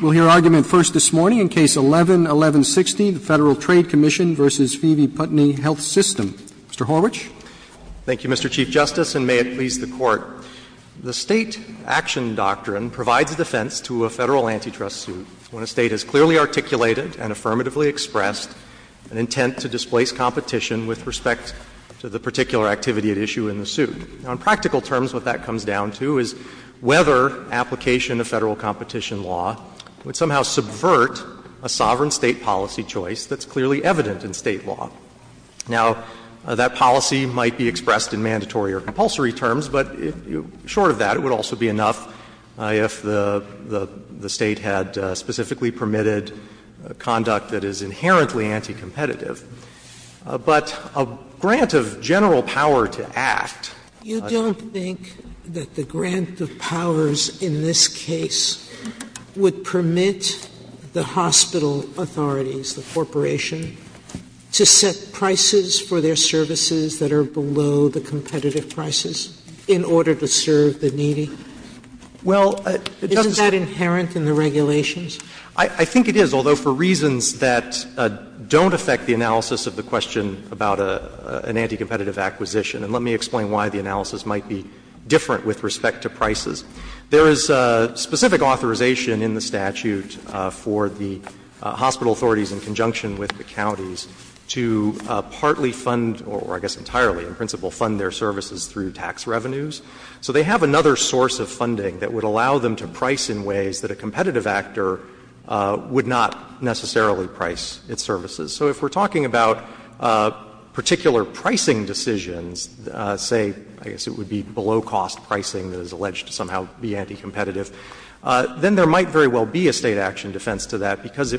We'll hear argument first this morning in Case 11-1160, the Federal Trade Commission v. Phoebe Putney Health System. Mr. Horwich. Thank you, Mr. Chief Justice, and may it please the Court. The State action doctrine provides defense to a Federal antitrust suit when a State has clearly articulated and affirmatively expressed an intent to displace competition with respect to the particular activity at issue in the suit. Now, in practical terms, what that comes down to is whether application of Federal competition law would somehow subvert a sovereign State policy choice that's clearly evident in State law. Now, that policy might be expressed in mandatory or compulsory terms, but short of that, it would also be enough if the State had specifically permitted conduct that is inherently anti-competitive. But a grant of general power to act. Sotomayor, you don't think that the grant of powers in this case would permit the hospital authorities, the corporation, to set prices for their services that are below the competitive prices in order to serve the needy? Well, it doesn't say. Isn't that inherent in the regulations? I think it is, although for reasons that don't affect the analysis of the question about an anti-competitive acquisition. And let me explain why the analysis might be different with respect to prices. There is specific authorization in the statute for the hospital authorities in conjunction with the counties to partly fund, or I guess entirely in principle, fund their services through tax revenues. So they have another source of funding that would allow them to price in ways that a competitive actor would not necessarily price its services. So if we're talking about particular pricing decisions, say, I guess it would be below cost pricing that is alleged to somehow be anti-competitive, then there might very well be a State action defense to that, because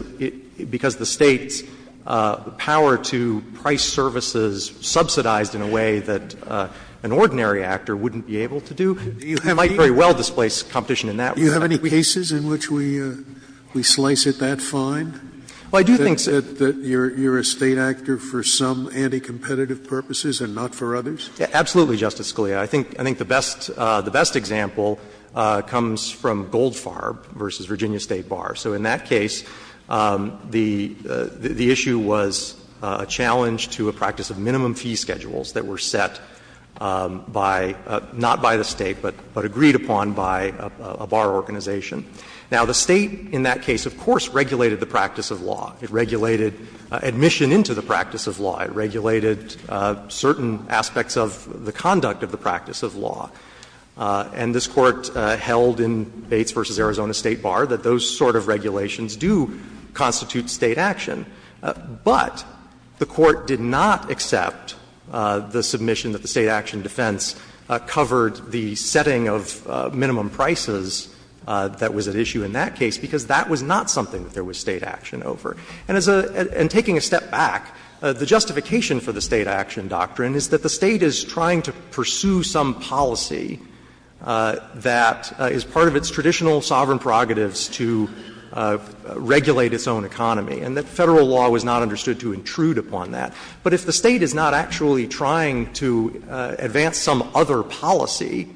the State's power to price services subsidized in a way that an ordinary actor wouldn't be able to do might very well displace competition in that way. Scalia, do you have any cases in which we slice it that fine, that you're a State actor for some anti-competitive purposes and not for others? Absolutely, Justice Scalia. I think the best example comes from Goldfarb v. Virginia State Bar. So in that case, the issue was a challenge to a practice of minimum fee schedules that were set by, not by the State, but agreed upon by a bar organization. Now, the State in that case, of course, regulated the practice of law. It regulated admission into the practice of law. It regulated certain aspects of the conduct of the practice of law. And this Court held in Bates v. Arizona State Bar that those sort of regulations do constitute State action. But the Court did not accept the submission that the State action defense covered the setting of minimum prices that was at issue in that case, because that was not something that there was State action over. And as a — and taking a step back, the justification for the State action doctrine is that the State is trying to pursue some policy that is part of its traditional sovereign prerogatives to regulate its own economy, and that Federal law was not understood to intrude upon that. But if the State is not actually trying to advance some other policy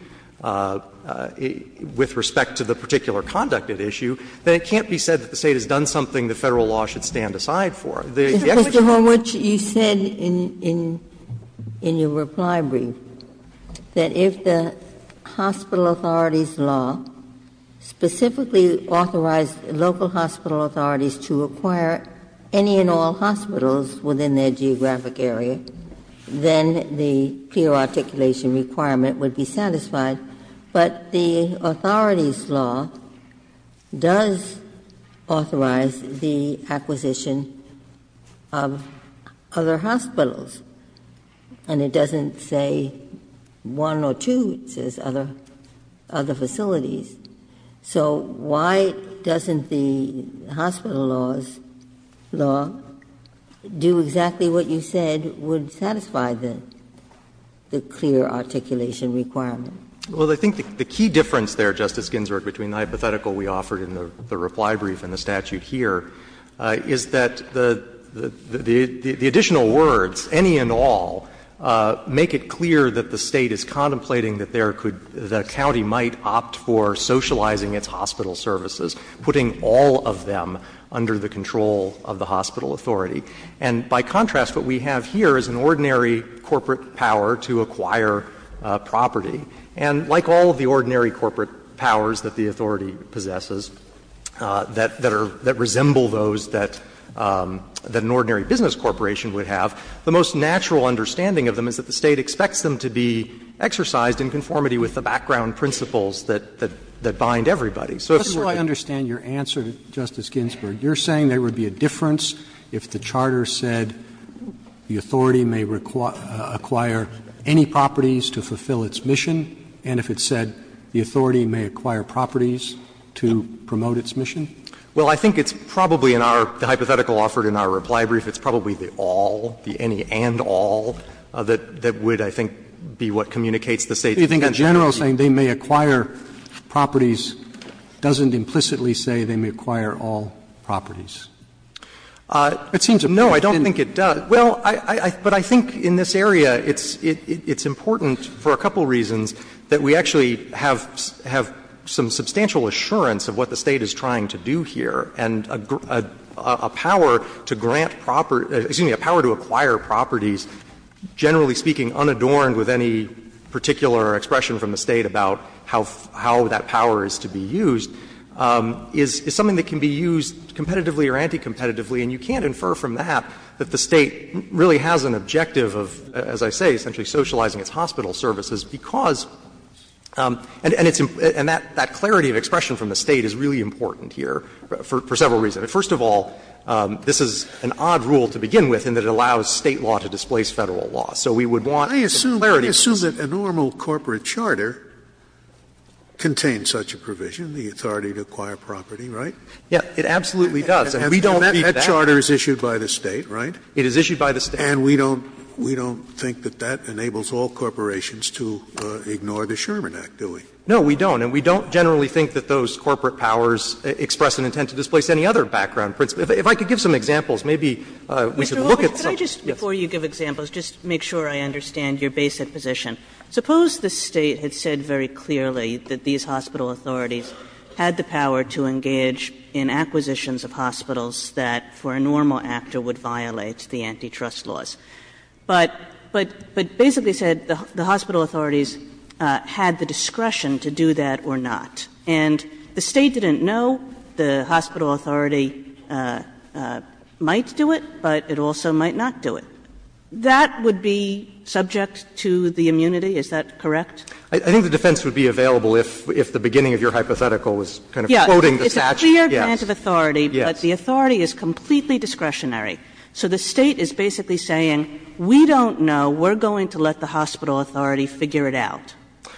with respect to the particular conduct at issue, then it can't be said that the State has done something that Federal law should stand aside for. If the State specifically authorized local hospital authorities to acquire any and all hospitals within their geographic area, then the clear articulation requirement would be satisfied, but the authorities' law does authorize the acquisition of other hospitals, and it doesn't say one or two, it says other facilities. So why doesn't the hospital laws law do exactly what you said would satisfy the clear articulation requirement? Well, I think the key difference there, Justice Ginsburg, between the hypothetical we offered in the reply brief and the statute here, is that the additional words, any and all, make it clear that the State is contemplating that there could be, that the county might opt for socializing its hospital services, putting all of them under the control of the hospital authority. And by contrast, what we have here is an ordinary corporate power to acquire property. And like all of the ordinary corporate powers that the authority possesses that are, that resemble those that an ordinary business corporation would have, the most natural understanding of them is that the State expects them to be exercised in conformity with the background principles that, that bind everybody. So if certainly your answer, Justice Ginsburg, you're saying there would be a difference if the charter said the authority may acquire any properties to fulfill its mission, and if it said the authority may acquire properties to promote its mission? Well, I think it's probably in our, the hypothetical offered in our reply brief, it's probably the all, the any and all that would, I think, be what communicates the State's intention. But do you think a general saying they may acquire properties doesn't implicitly say they may acquire all properties? It seems to me that it doesn't. No, I don't think it does. Well, I, I, but I think in this area it's, it's important for a couple of reasons that we actually have, have some substantial assurance of what the State is trying to do here, and a, a power to grant property, excuse me, a power to acquire properties generally speaking unadorned with any particular expression from the State about how, how that power is to be used, is, is something that can be used competitively or anti-competitively, and you can't infer from that that the State really has an objective of, as I say, essentially socializing its hospital services because, and, and it's, and that, that clarity of expression from the State is really important here for, for several reasons. First of all, this is an odd rule to begin with in that it allows State law to displace Federal law. So we would want clarity of expression. Scalia, I assume, I assume that a normal corporate charter contains such a provision, the authority to acquire property, right? Yeah, it absolutely does. And we don't think that. And that charter is issued by the State, right? It is issued by the State. And we don't, we don't think that that enables all corporations to ignore the Sherman Act, do we? No, we don't. And we don't generally think that those corporate powers express an intent to displace any other background principle. If I could give some examples, maybe we could look at some. Mr. Walsh, could I just, before you give examples, just make sure I understand your basic position. Suppose the State had said very clearly that these hospital authorities had the power to engage in acquisitions of hospitals that, for a normal actor, would violate the antitrust laws. But basically said the hospital authorities had the discretion to do that or not. And the State didn't know the hospital authority might do it, but it also might not do it. That would be subject to the immunity, is that correct? I think the defense would be available if the beginning of your hypothetical was kind of quoting the statute. Yes. Yes. It's a clear grant of authority, but the authority is completely discretionary. So the State is basically saying, we don't know, we're going to let the hospital authority figure it out.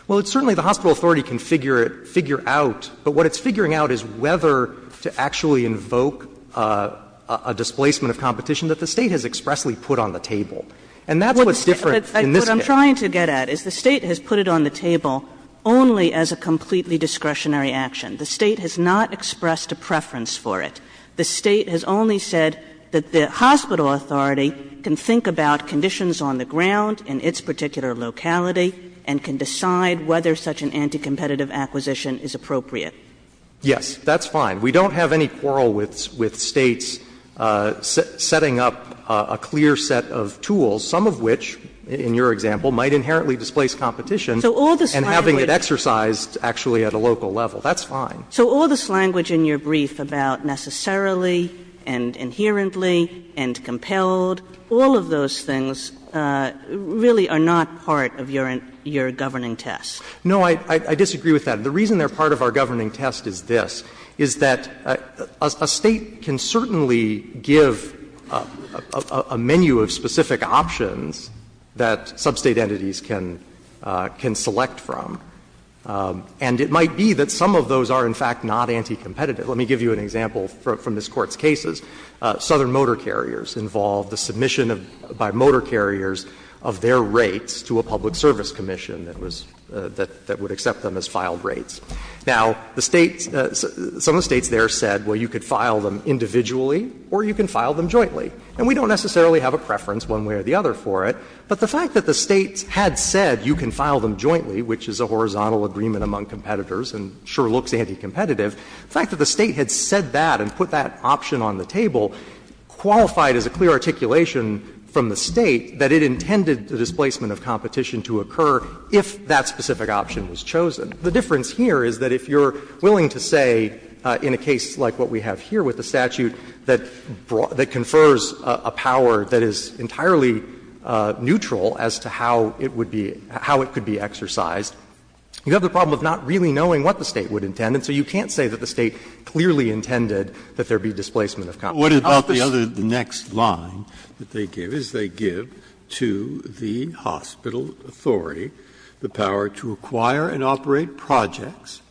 Well, it's certainly the hospital authority can figure it, figure out, but what it's figuring out is whether to actually invoke a displacement of competition that the State has expressly put on the table. And that's what's different in this case. What I'm trying to get at is the State has put it on the table only as a completely discretionary action. The State has not expressed a preference for it. The State has only said that the hospital authority can think about conditions on the ground in its particular locality and can decide whether such an anti-competitive acquisition is appropriate. Yes. That's fine. We don't have any quarrel with States setting up a clear set of tools, some of which, in your example, might inherently displace competition and having it exercised actually at a local level. That's fine. So all this language in your brief about necessarily and inherently and compelled, all of those things really are not part of your governing test. No, I disagree with that. The reason they're part of our governing test is this, is that a State can certainly give a menu of specific options that sub-State entities can select from, and it might be that some of those are, in fact, not anti-competitive. Let me give you an example from this Court's cases. Southern Motor Carriers involved the submission by motor carriers of their rates to a public service commission that was that would accept them as filed rates. Now, the States, some of the States there said, well, you could file them individually or you can file them jointly. And we don't necessarily have a preference one way or the other for it, but the fact that the States had said you can file them jointly, which is a horizontal agreement among competitors and sure looks anti-competitive, the fact that the State had said that and put that option on the table qualified as a clear articulation from the State that it intended the displacement of competition to occur if that specific option was chosen. The difference here is that if you're willing to say, in a case like what we have here with the statute, that confers a power that is entirely neutral as to how it would be, how it could be exercised. You have the problem of not really knowing what the State would intend, and so you can't say that the State clearly intended that there be displacement of competition. Breyer, what about the other, the next line that they give, is they give to the hospital authority the power to acquire and operate projects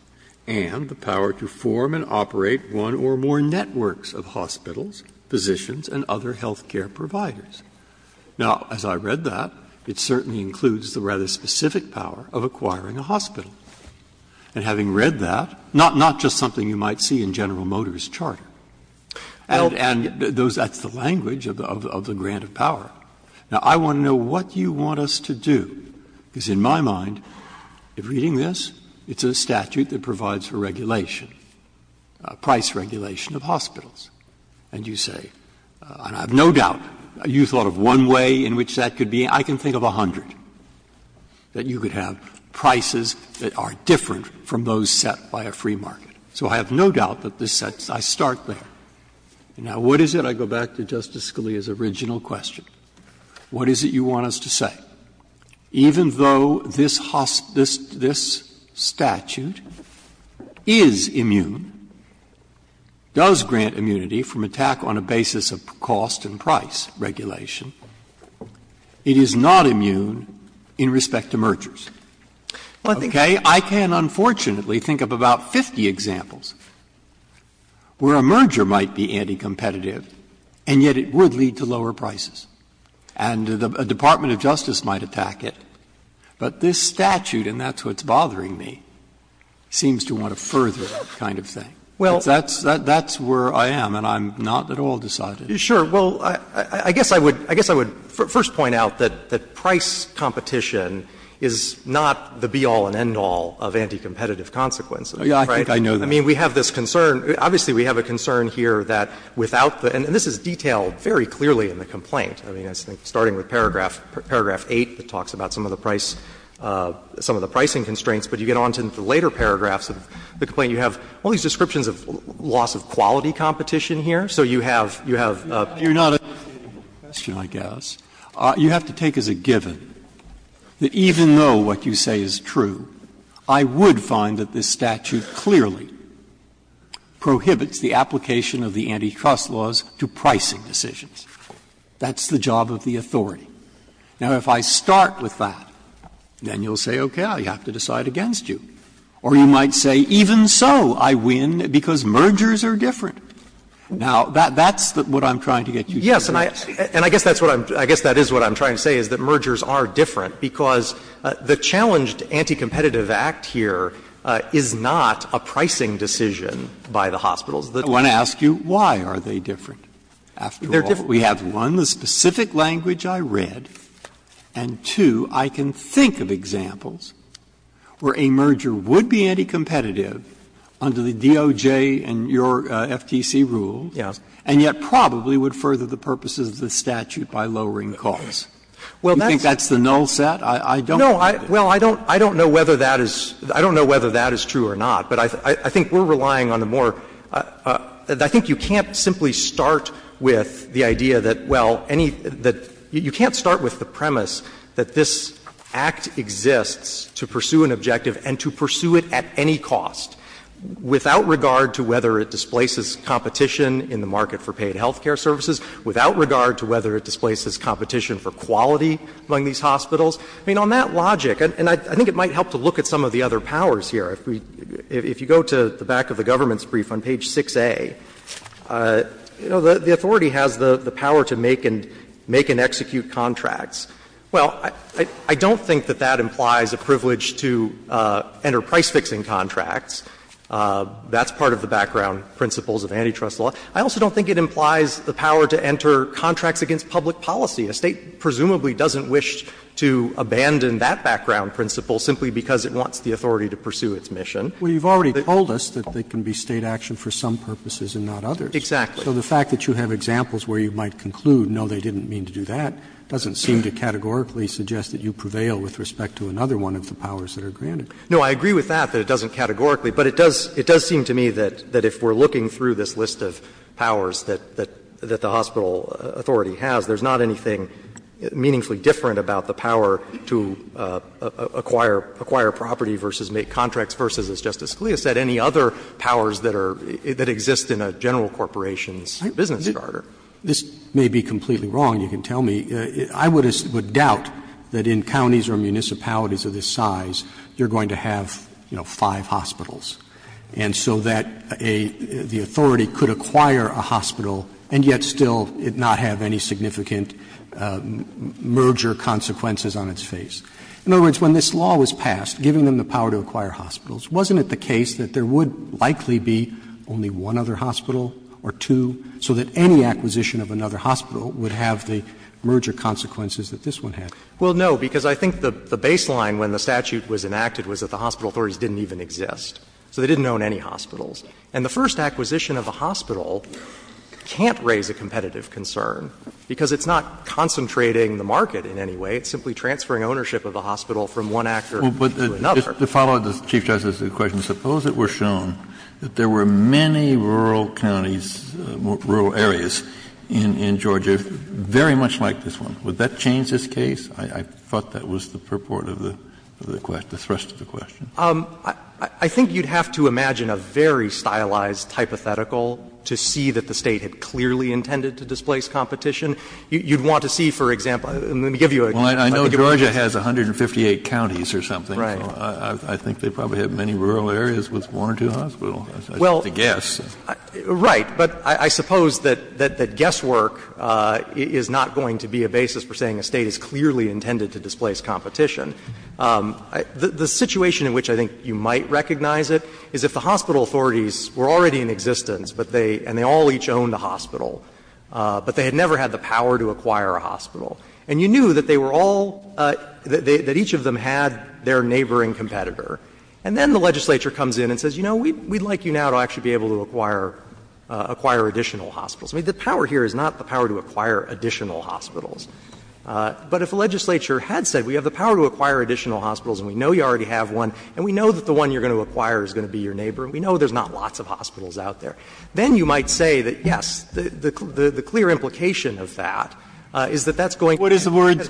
and the power to form and operate one or more networks of hospitals, physicians, and other health care providers. Now, as I read that, it certainly includes the rather specific power of acquiring a hospital. And having read that, not just something you might see in General Motors' charter. And that's the language of the grant of power. Now, I want to know what you want us to do, because in my mind, reading this, it's a statute that provides for regulation, price regulation of hospitals. And you say, and I have no doubt, you thought of one way in which that could be. I can think of a hundred that you could have, prices that are different from those set by a free market. So I have no doubt that this sets the start there. Now, what is it, I go back to Justice Scalia's original question, what is it you want us to say? Even though this statute is immune, does grant immunity from attack on a basis of cost and price regulation, it is not immune in respect to mergers. Okay? I can, unfortunately, think of about 50 examples where a merger might be anticompetitive, and yet it would lead to lower prices. And a Department of Justice might attack it. But this statute, and that's what's bothering me, seems to want to further that kind of thing. That's where I am, and I'm not at all decided. Fisherman, I guess I would first point out that price competition is not the be-all and end-all of anticompetitive consequences, right? Breyer, I think I know that. I mean, we have this concern, obviously we have a concern here that without the end all, you have to take as a given that even though what you say is true, I would I mean, I think it's very clear in the complaint, I mean, starting with paragraph 8, it talks about some of the price, some of the pricing constraints, but you get on to the later paragraphs of the complaint, you have all these descriptions of loss of quality competition here, so you have, you have. You're not a question, I guess. You have to take as a given that even though what you say is true, I would find that this statute clearly prohibits the application of the antitrust laws to pricing decisions. That's the job of the authority. Now, if I start with that, then you'll say, okay, I have to decide against you. Or you might say, even so, I win because mergers are different. Now, that's what I'm trying to get you to do. Yes, and I guess that's what I'm – I guess that is what I'm trying to say, is that mergers are different, because the challenged Anticompetitive Act here is not a pricing decision by the hospitals. I want to ask you, why are they different? They're different. We have, one, the specific language I read, and two, I can think of examples where a merger would be anticompetitive under the DOJ and your FTC rules, and yet probably would further the purposes of the statute by lowering the cost. Do you think that's the null set? I don't think it is. Well, I don't know whether that is true or not, but I think we're relying on the more – I think you can't simply start with the idea that, well, any – you can't start with the premise that this Act exists to pursue an objective and to pursue it at any cost, without regard to whether it displaces competition in the market for paid health care services, without regard to whether it displaces competition for quality among these hospitals. I mean, on that logic, and I think it might help to look at some of the other powers here. If we – if you go to the back of the government's brief on page 6a, you know, the Well, I don't think that that implies a privilege to enter price-fixing contracts. That's part of the background principles of antitrust law. I also don't think it implies the power to enter contracts against public policy. A State presumably doesn't wish to abandon that background principle simply because it wants the authority to pursue its mission. But you've already told us that it can be State action for some purposes and not others. Exactly. So the fact that you have examples where you might conclude, no, they didn't mean to do that, doesn't seem to categorically suggest that you prevail with respect to another one of the powers that are granted. No, I agree with that, that it doesn't categorically. But it does – it does seem to me that if we're looking through this list of powers that the hospital authority has, there's not anything meaningfully different about the power to acquire property versus make contracts versus, as Justice Scalia said, any other powers that are – that exist in a general corporation's business charter. This may be completely wrong. You can tell me. I would doubt that in counties or municipalities of this size you're going to have, you know, five hospitals. And so that a – the authority could acquire a hospital and yet still not have any significant merger consequences on its face. In other words, when this law was passed, giving them the power to acquire hospitals, wasn't it the case that there would likely be only one other hospital or two, so that any acquisition of another hospital would have the merger consequences that this one had? Well, no, because I think the baseline when the statute was enacted was that the hospital authorities didn't even exist. So they didn't own any hospitals. And the first acquisition of a hospital can't raise a competitive concern, because it's not concentrating the market in any way. It's simply transferring ownership of the hospital from one actor to another. But just to follow up the Chief Justice's question, suppose it were shown that there were many rural counties, rural areas in Georgia, very much like this one, would that change this case? I thought that was the purport of the question, the thrust of the question. I think you'd have to imagine a very stylized hypothetical to see that the State had clearly intended to displace competition. You'd want to see, for example, let me give you a guess. Well, I know Georgia has 158 counties or something, so I think they probably have many rural areas with one or two hospitals. Well, right. But I suppose that guesswork is not going to be a basis for saying a State is clearly intended to displace competition. The situation in which I think you might recognize it is if the hospital authorities were already in existence, but they — and they all each owned a hospital, but they had never had the power to acquire a hospital. And you knew that they were all — that each of them had their neighboring competitor. And then the legislature comes in and says, you know, we'd like you now to actually be able to acquire additional hospitals. I mean, the power here is not the power to acquire additional hospitals. But if the legislature had said, we have the power to acquire additional hospitals and we know you already have one, and we know that the one you're going to acquire is going to be your neighbor, and we know there's not lots of hospitals out there, then you might say that, yes, the clear implication of that is that that's going to be the case. So I'm not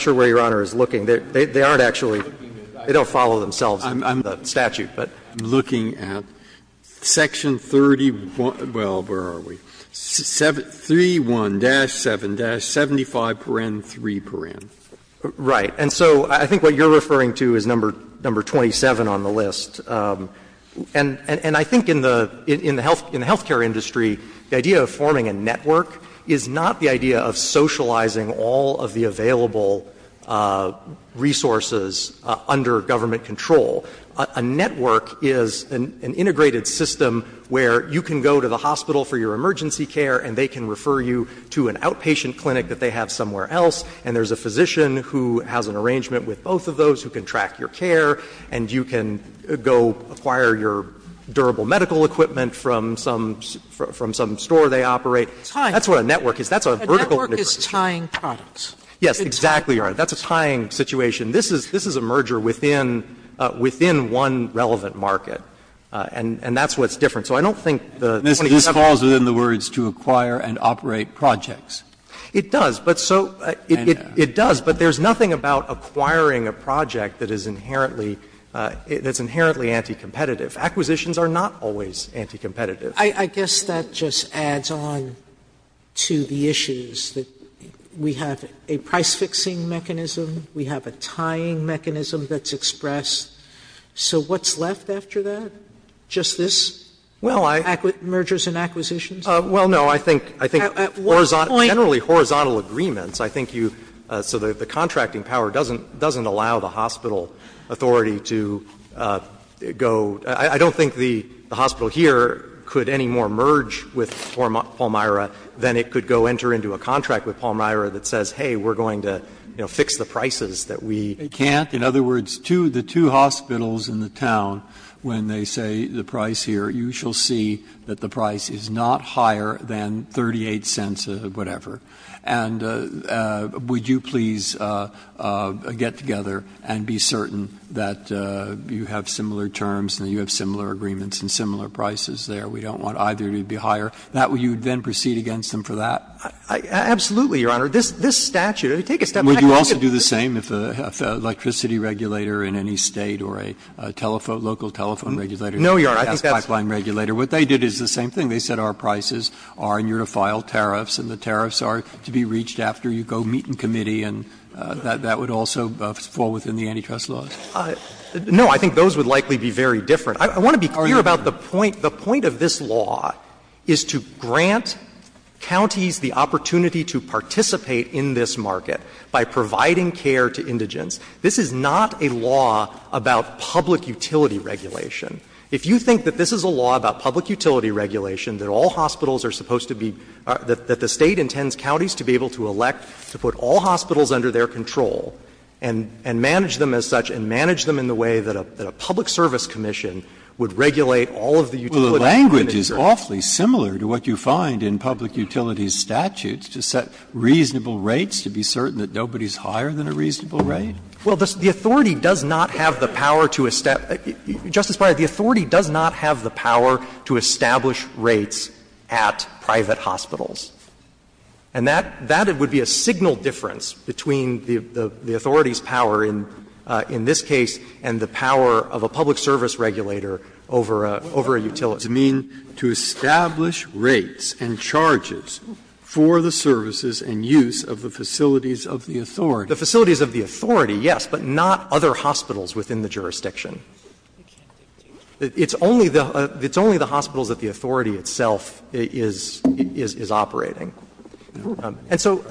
sure where Your Honor is looking. They don't follow themselves in the statute, but I'm looking at Section 31 — well, where are we? —3, 1-7-75parn, 3parn. Shanmugam. Right. And so I think what you're referring to is number 27 on the list. And I think in the — in the health care industry, the idea of forming a network is not the idea of socializing all of the available resources under government control. A network is an integrated system where you can go to the hospital for your emergency care and they can refer you to an outpatient clinic that they have somewhere else, and there's a physician who has an arrangement with both of those who can track your care, and you can go acquire your durable medical equipment from some — from some store they operate. Sotomayor, that's what a network is. That's a vertical integration. A network is tying products. Yes, exactly, Your Honor. That's a tying situation. This is — this is a merger within — within one relevant market, and — and that's what's different. So I don't think the — And this falls within the words to acquire and operate projects. It does. But so — it does. But there's nothing about acquiring a project that is inherently — that's inherently anti-competitive. Acquisitions are not always anti-competitive. I guess that just adds on to the issues that we have a price-fixing mechanism, we have a tying mechanism that's expressed. So what's left after that? Just this? Well, I — Mergers and acquisitions? Well, no. I think — I think horizontal — generally horizontal agreements, I think you — so the contracting power doesn't — doesn't allow the hospital authority to go — I don't think the hospital here could any more merge with Palmyra than it could go enter into a contract with Palmyra that says, hey, we're going to, you know, fix the prices that we — They can't? In other words, two — the two hospitals in the town, when they say the price here, you shall see that the price is not higher than 38 cents of whatever. And would you please get together and be certain that you have similar terms and you have similar agreements and similar prices there? We don't want either to be higher. That way you would then proceed against them for that? Absolutely, Your Honor. This — this statute, if you take a step back a little bit — Would you also do the same if an electricity regulator in any State or a telephone — local telephone regulator — No, Your Honor. I think that's —— or a gas pipeline regulator. What they did is the same thing. They said our prices are in unified tariffs and the tariffs are to be reached after you go meet in committee, and that would also fall within the antitrust laws. No. I think those would likely be very different. I want to be clear about the point. The point of this law is to grant counties the opportunity to participate in this market by providing care to indigents. This is not a law about public utility regulation. If you think that this is a law about public utility regulation, that all hospitals are supposed to be — that the State intends counties to be able to elect to put all hospitals under their control and — and manage them as such and manage them in the way that a public service commission would regulate all of the utility— Well, the language is awfully similar to what you find in public utilities statutes to set reasonable rates to be certain that nobody is higher than a reasonable rate. Well, the authority does not have the power to establish — Justice Breyer, these are the words of the Court, but the authority does not have the power to establish rates at private hospitals. And that — that would be a signal difference between the authority's power in — in this case and the power of a public service regulator over a — over a utility. Breyer, what does it mean to establish rates and charges for the services and use of the facilities of the authority? The facilities of the authority, yes, but not other hospitals within the jurisdiction. It's only the — it's only the hospitals that the authority itself is — is operating. And so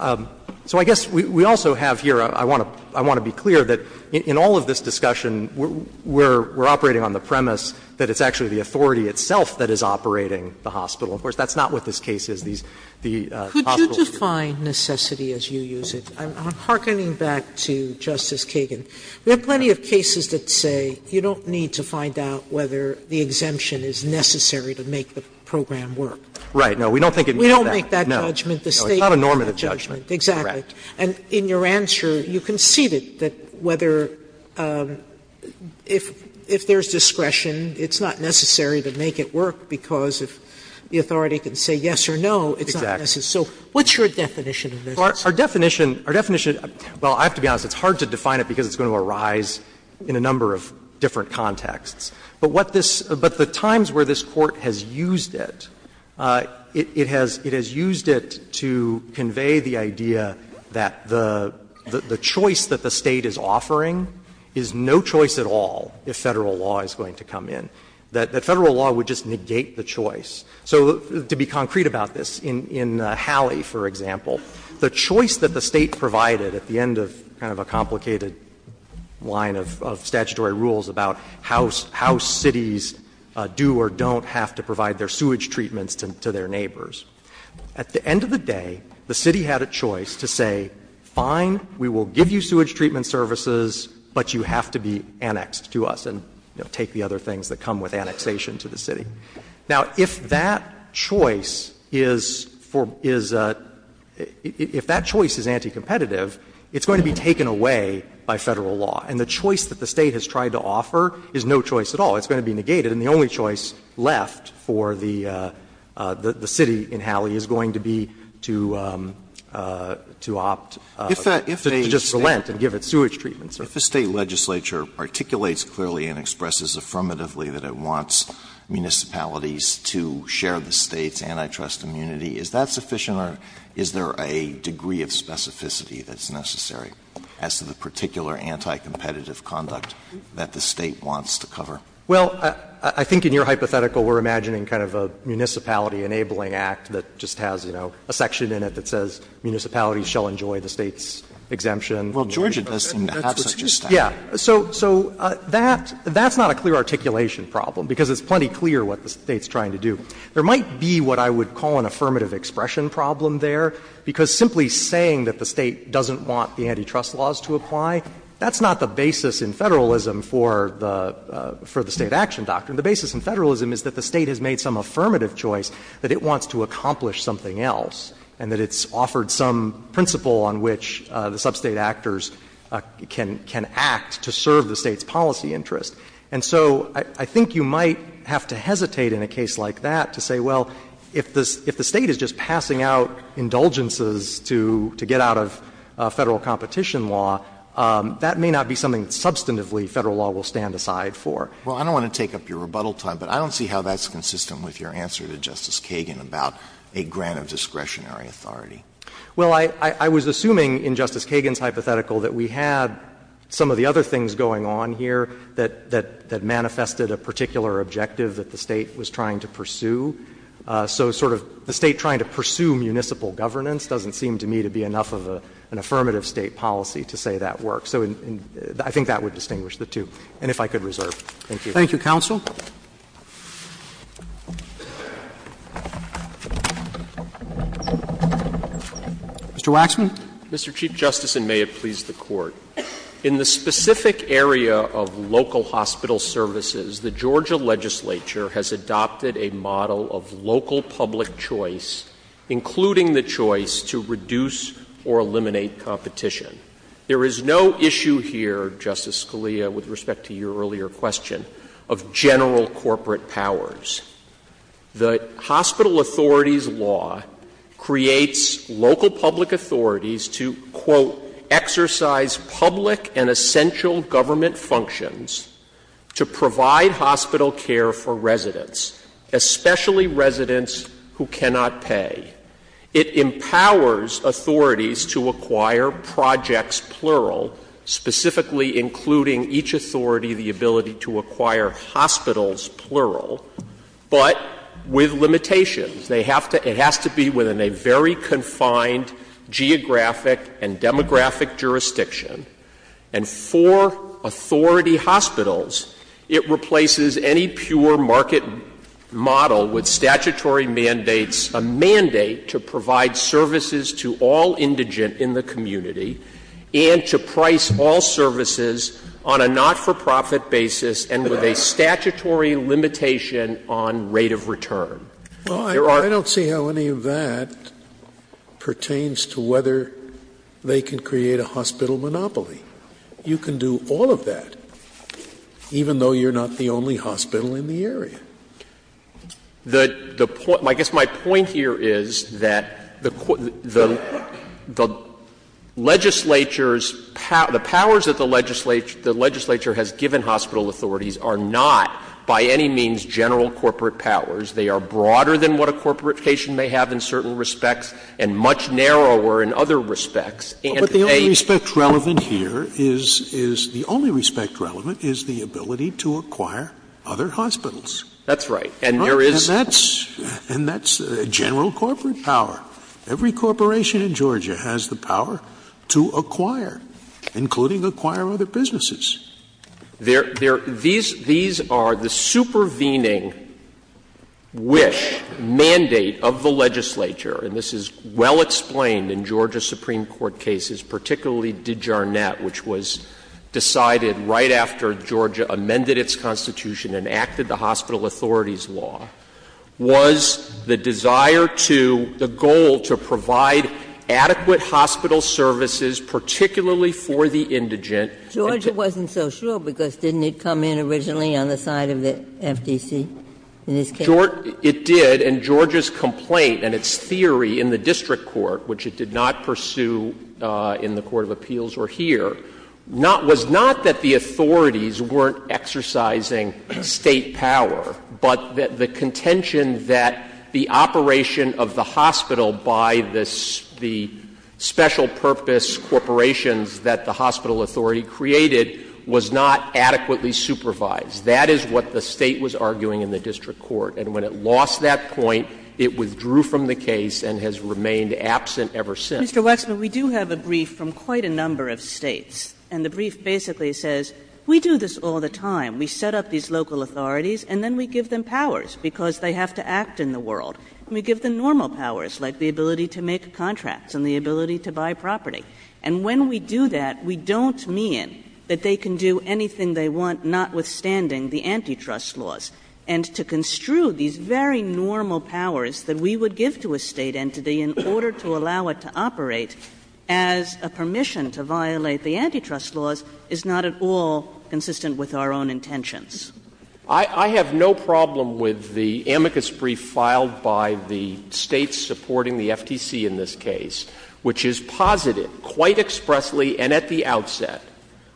I — so I guess we also have here, I want to — I want to be clear that in all of this discussion we're — we're operating on the premise that it's actually the authority itself that is operating the hospital. Of course, that's not what this case is, these — these hospitals. Could you define necessity as you use it? I'm hearkening back to Justice Kagan. There are plenty of cases that say you don't need to find out whether the exemption is necessary to make the program work. Right. No, we don't think it means that. We don't make that judgment. No. No, it's not a normative judgment. Exactly. Correct. And in your answer, you conceded that whether — if — if there's discretion, it's not necessary to make it work because if the authority can say yes or no, it's not necessary. Exactly. So what's your definition of necessity? Our definition — our definition — well, I have to be honest, it's hard to define it because it's going to arise in a number of different contexts. But what this — but the times where this Court has used it, it has — it has used it to convey the idea that the — the choice that the State is offering is no choice at all if Federal law is going to come in, that Federal law would just negate the choice. So to be concrete about this, in Hallie, for example, the choice that the State provided at the end of kind of a complicated line of — of statutory rules about how — how cities do or don't have to provide their sewage treatments to their neighbors, at the end of the day, the City had a choice to say, fine, we will give you sewage treatment services, but you have to be annexed to us and, you know, take the other things that come with annexation to the City. Now, if that choice is for — is — if that choice is anti-competitive, it's going to be taken away by Federal law. And the choice that the State has tried to offer is no choice at all. It's going to be negated, and the only choice left for the — the City in Hallie is going to be to — to opt to just relent and give it sewage treatment services. Alito, if a State legislature articulates clearly and expresses affirmatively that it wants municipalities to share the State's antitrust immunity, is that sufficient or is there a degree of specificity that's necessary as to the particular anti-competitive conduct that the State wants to cover? Well, I think in your hypothetical, we're imagining kind of a municipality-enabling act that just has, you know, a section in it that says municipalities shall enjoy the State's exemption. Well, Georgia does seem to have such a statute. Yeah. So — so that — that's not a clear articulation problem, because it's plenty clear what the State's trying to do. There might be what I would call an affirmative expression problem there, because simply saying that the State doesn't want the antitrust laws to apply, that's not the basis in Federalism for the — for the State action doctrine. The basis in Federalism is that the State has made some affirmative choice, that it wants to accomplish something else, and that it's offered some principle on which the sub-State actors can — can act to serve the State's policy interest. And so I — I think you might have to hesitate in a case like that to say, well, if the — if the State is just passing out indulgences to — to get out of Federal competition law, that may not be something that substantively Federal law will stand aside for. Well, I don't want to take up your rebuttal time, but I don't see how that's consistent with your answer to Justice Kagan about a grant of discretionary authority. Well, I — I was assuming in Justice Kagan's hypothetical that we had some of the other things going on here that — that manifested a particular objective that the State was trying to pursue. So sort of the State trying to pursue municipal governance doesn't seem to me to be enough of a — an affirmative State policy to say that works. So I think that would distinguish the two, and if I could reserve. Thank you. Thank you, counsel. Mr. Waxman. Mr. Chief Justice, and may it please the Court. In the specific area of local hospital services, the Georgia legislature has adopted a model of local public choice, including the choice to reduce or eliminate competition. There is no issue here, Justice Scalia, with respect to your earlier question, of general corporate powers. The hospital authorities law creates local public authorities to, quote, exercise public and essential government functions to provide hospital care for residents, especially residents who cannot pay. It empowers authorities to acquire projects, plural, specifically including each authority the ability to acquire hospitals, plural, but with limitations. They have to — it has to be within a very confined geographic and demographic jurisdiction. And for authority hospitals, it replaces any pure market model with statutory mandates, a mandate to provide services to all indigent in the community and to price all services on a not-for-profit basis and with a statutory limitation on rate of return. There are — Well, I don't see how any of that pertains to whether they can create a hospital monopoly. You can do all of that, even though you're not the only hospital in the area. I guess my point here is that the legislature's — the powers that the legislature has given hospital authorities are not by any means general corporate powers. They are broader than what a corporate patient may have in certain respects and much narrower in other respects. And they — But the only respect relevant here is — is the only respect relevant is the ability to acquire other hospitals. That's right. And there is — And that's — and that's general corporate power. Every corporation in Georgia has the power to acquire, including acquire other businesses. There — there — these — these are the supervening wish, mandate of the legislature, and this is well explained in Georgia Supreme Court cases, particularly DeJarnett, which was decided right after Georgia amended its constitution and acted the hospital authorities law, was the desire to — the goal to provide adequate hospital services, particularly for the indigent. Georgia wasn't so sure because didn't it come in originally on the side of the FTC in this case? It did. And Georgia's complaint and its theory in the district court, which it did not pursue in the court of appeals or here, not — was not that the authorities weren't exercising State power, but that the contention that the operation of the hospital by this — the special purpose corporations that the hospital authority created was not adequately supervised. That is what the State was arguing in the district court. And when it lost that point, it withdrew from the case and has remained absent ever since. Kagan, our next question is from Mr. Wexner. Mr. Wexner, we do have a brief from quite a number of States and the brief basically says, we do this all the time. We set up these local authorities and then we give them powers because they have to act in the world. We give them normal powers, like the ability to make contracts and the ability to buy property. And when we do that, we don't mean that they can do anything they want notwithstanding the antitrust laws. And to construe these very normal powers that we would give to a State entity in order to allow it to operate as a permission to violate the antitrust laws is not at all consistent with our own intentions. I have no problem with the amicus brief filed by the States supporting the FTC in this case, which is posited quite expressly and at the outset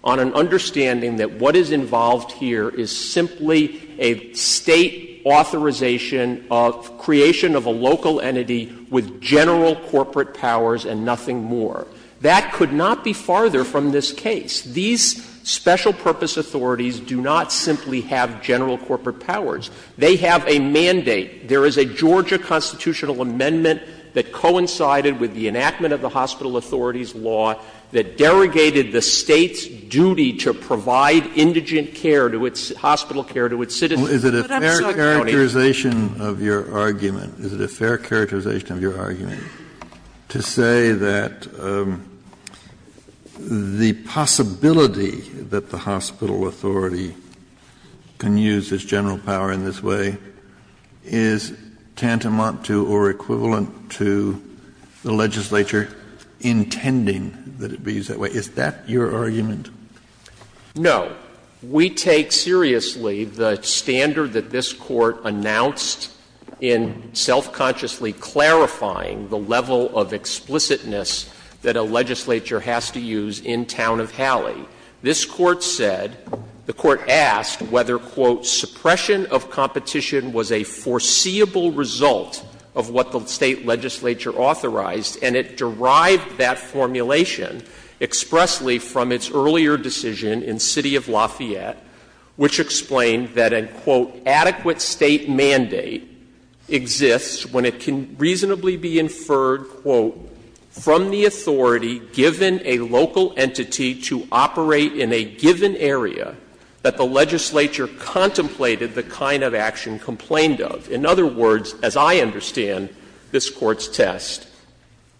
on an understanding that what is involved here is simply a State authorization of creation of a local entity with general corporate powers and nothing more. That could not be farther from this case. These special purpose authorities do not simply have general corporate powers. They have a mandate. There is a Georgia constitutional amendment that coincided with the enactment of the hospital authorities law that derogated the States' duty to provide individual care to its — hospital care to its citizens. But I'm sorry, County. Kennedy, is it a fair characterization of your argument, is it a fair characterization of your argument to say that the possibility that the hospital authority can use its general power in this way is tantamount to or equivalent to the legislature intending that it be used that way? Is that your argument? No. We take seriously the standard that this Court announced in self-consciously clarifying the level of explicitness that a legislature has to use in Town of Hallie. This Court said — the Court asked whether, quote, suppression of competition was a foreseeable result of what the State legislature authorized, and it derived that formulation expressly from its earlier decision in City of Lafayette, which explained that a, quote, adequate State mandate exists when it can reasonably be inferred, quote, from the authority given a local entity to operate in a given area that the legislature contemplated the kind of action complained of. In other words, as I understand this Court's test,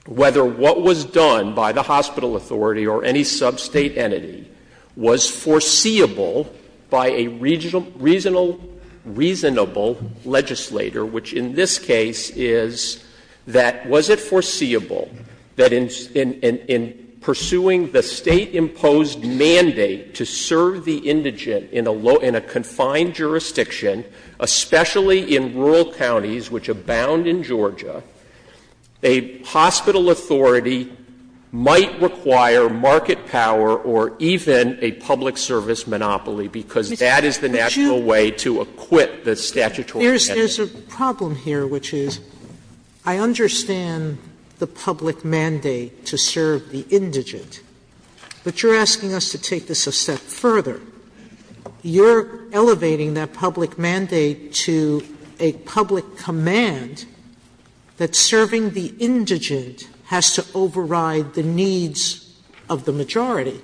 whether what was done by the hospital authority or any sub-State entity was foreseeable by a reasonable legislator, which in this case is that was it foreseeable that in pursuing the State-imposed mandate to serve the indigent in a low — in a confined jurisdiction, especially in rural counties which abound in Georgia, a hospital authority might require market power or even a public service monopoly, because that is the natural way to acquit the statutory entity. Sotomayor, there's a problem here, which is I understand the public mandate to serve the indigent, but you're asking us to take this a step further. You're elevating that public mandate to a public command that serving the indigent has to override the needs of the majority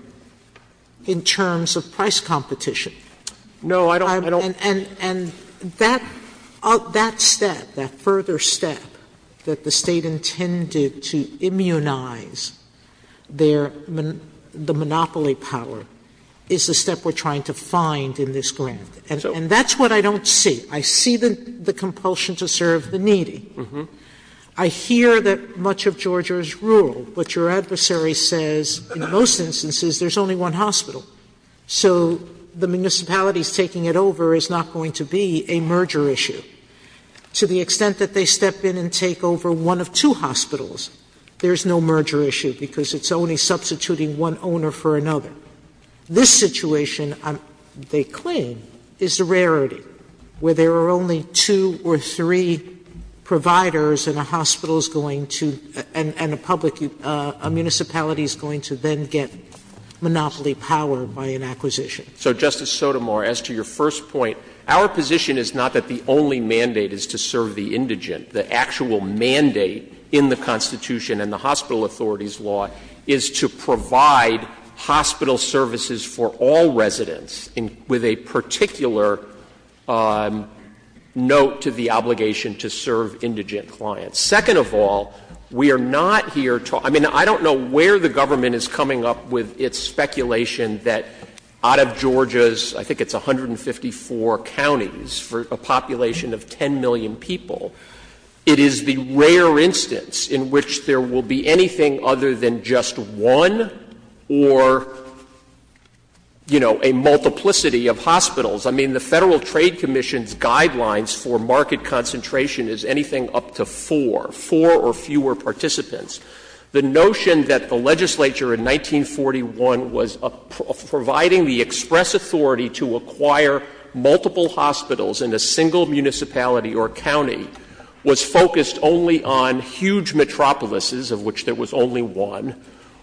in terms of price competition. And that step, that further step that the State intended to immunize their — the And that's what I don't see. I see the compulsion to serve the needy. I hear that much of Georgia is rural, but your adversary says in most instances there's only one hospital. So the municipalities taking it over is not going to be a merger issue. To the extent that they step in and take over one of two hospitals, there's no merger issue because it's only substituting one owner for another. This situation, they claim, is a rarity, where there are only two or three providers and a hospital is going to — and a public — a municipality is going to then get monopoly power by an acquisition. So, Justice Sotomayor, as to your first point, our position is not that the only mandate is to serve the indigent. The actual mandate in the Constitution and the hospital authorities' law is to provide hospital services for all residents, with a particular note to the obligation to serve indigent clients. Second of all, we are not here to — I mean, I don't know where the government is coming up with its speculation that out of Georgia's — I think it's 154 counties for a population of 10 million people, it is the rare instance in which there will be anything other than just one or, you know, a multiplicity of hospitals. I mean, the Federal Trade Commission's guidelines for market concentration is anything up to four, four or fewer participants. The notion that the legislature in 1941 was providing the express authority to acquire multiple hospitals in a single municipality or county was focused only on huge metropolises of which there was only one,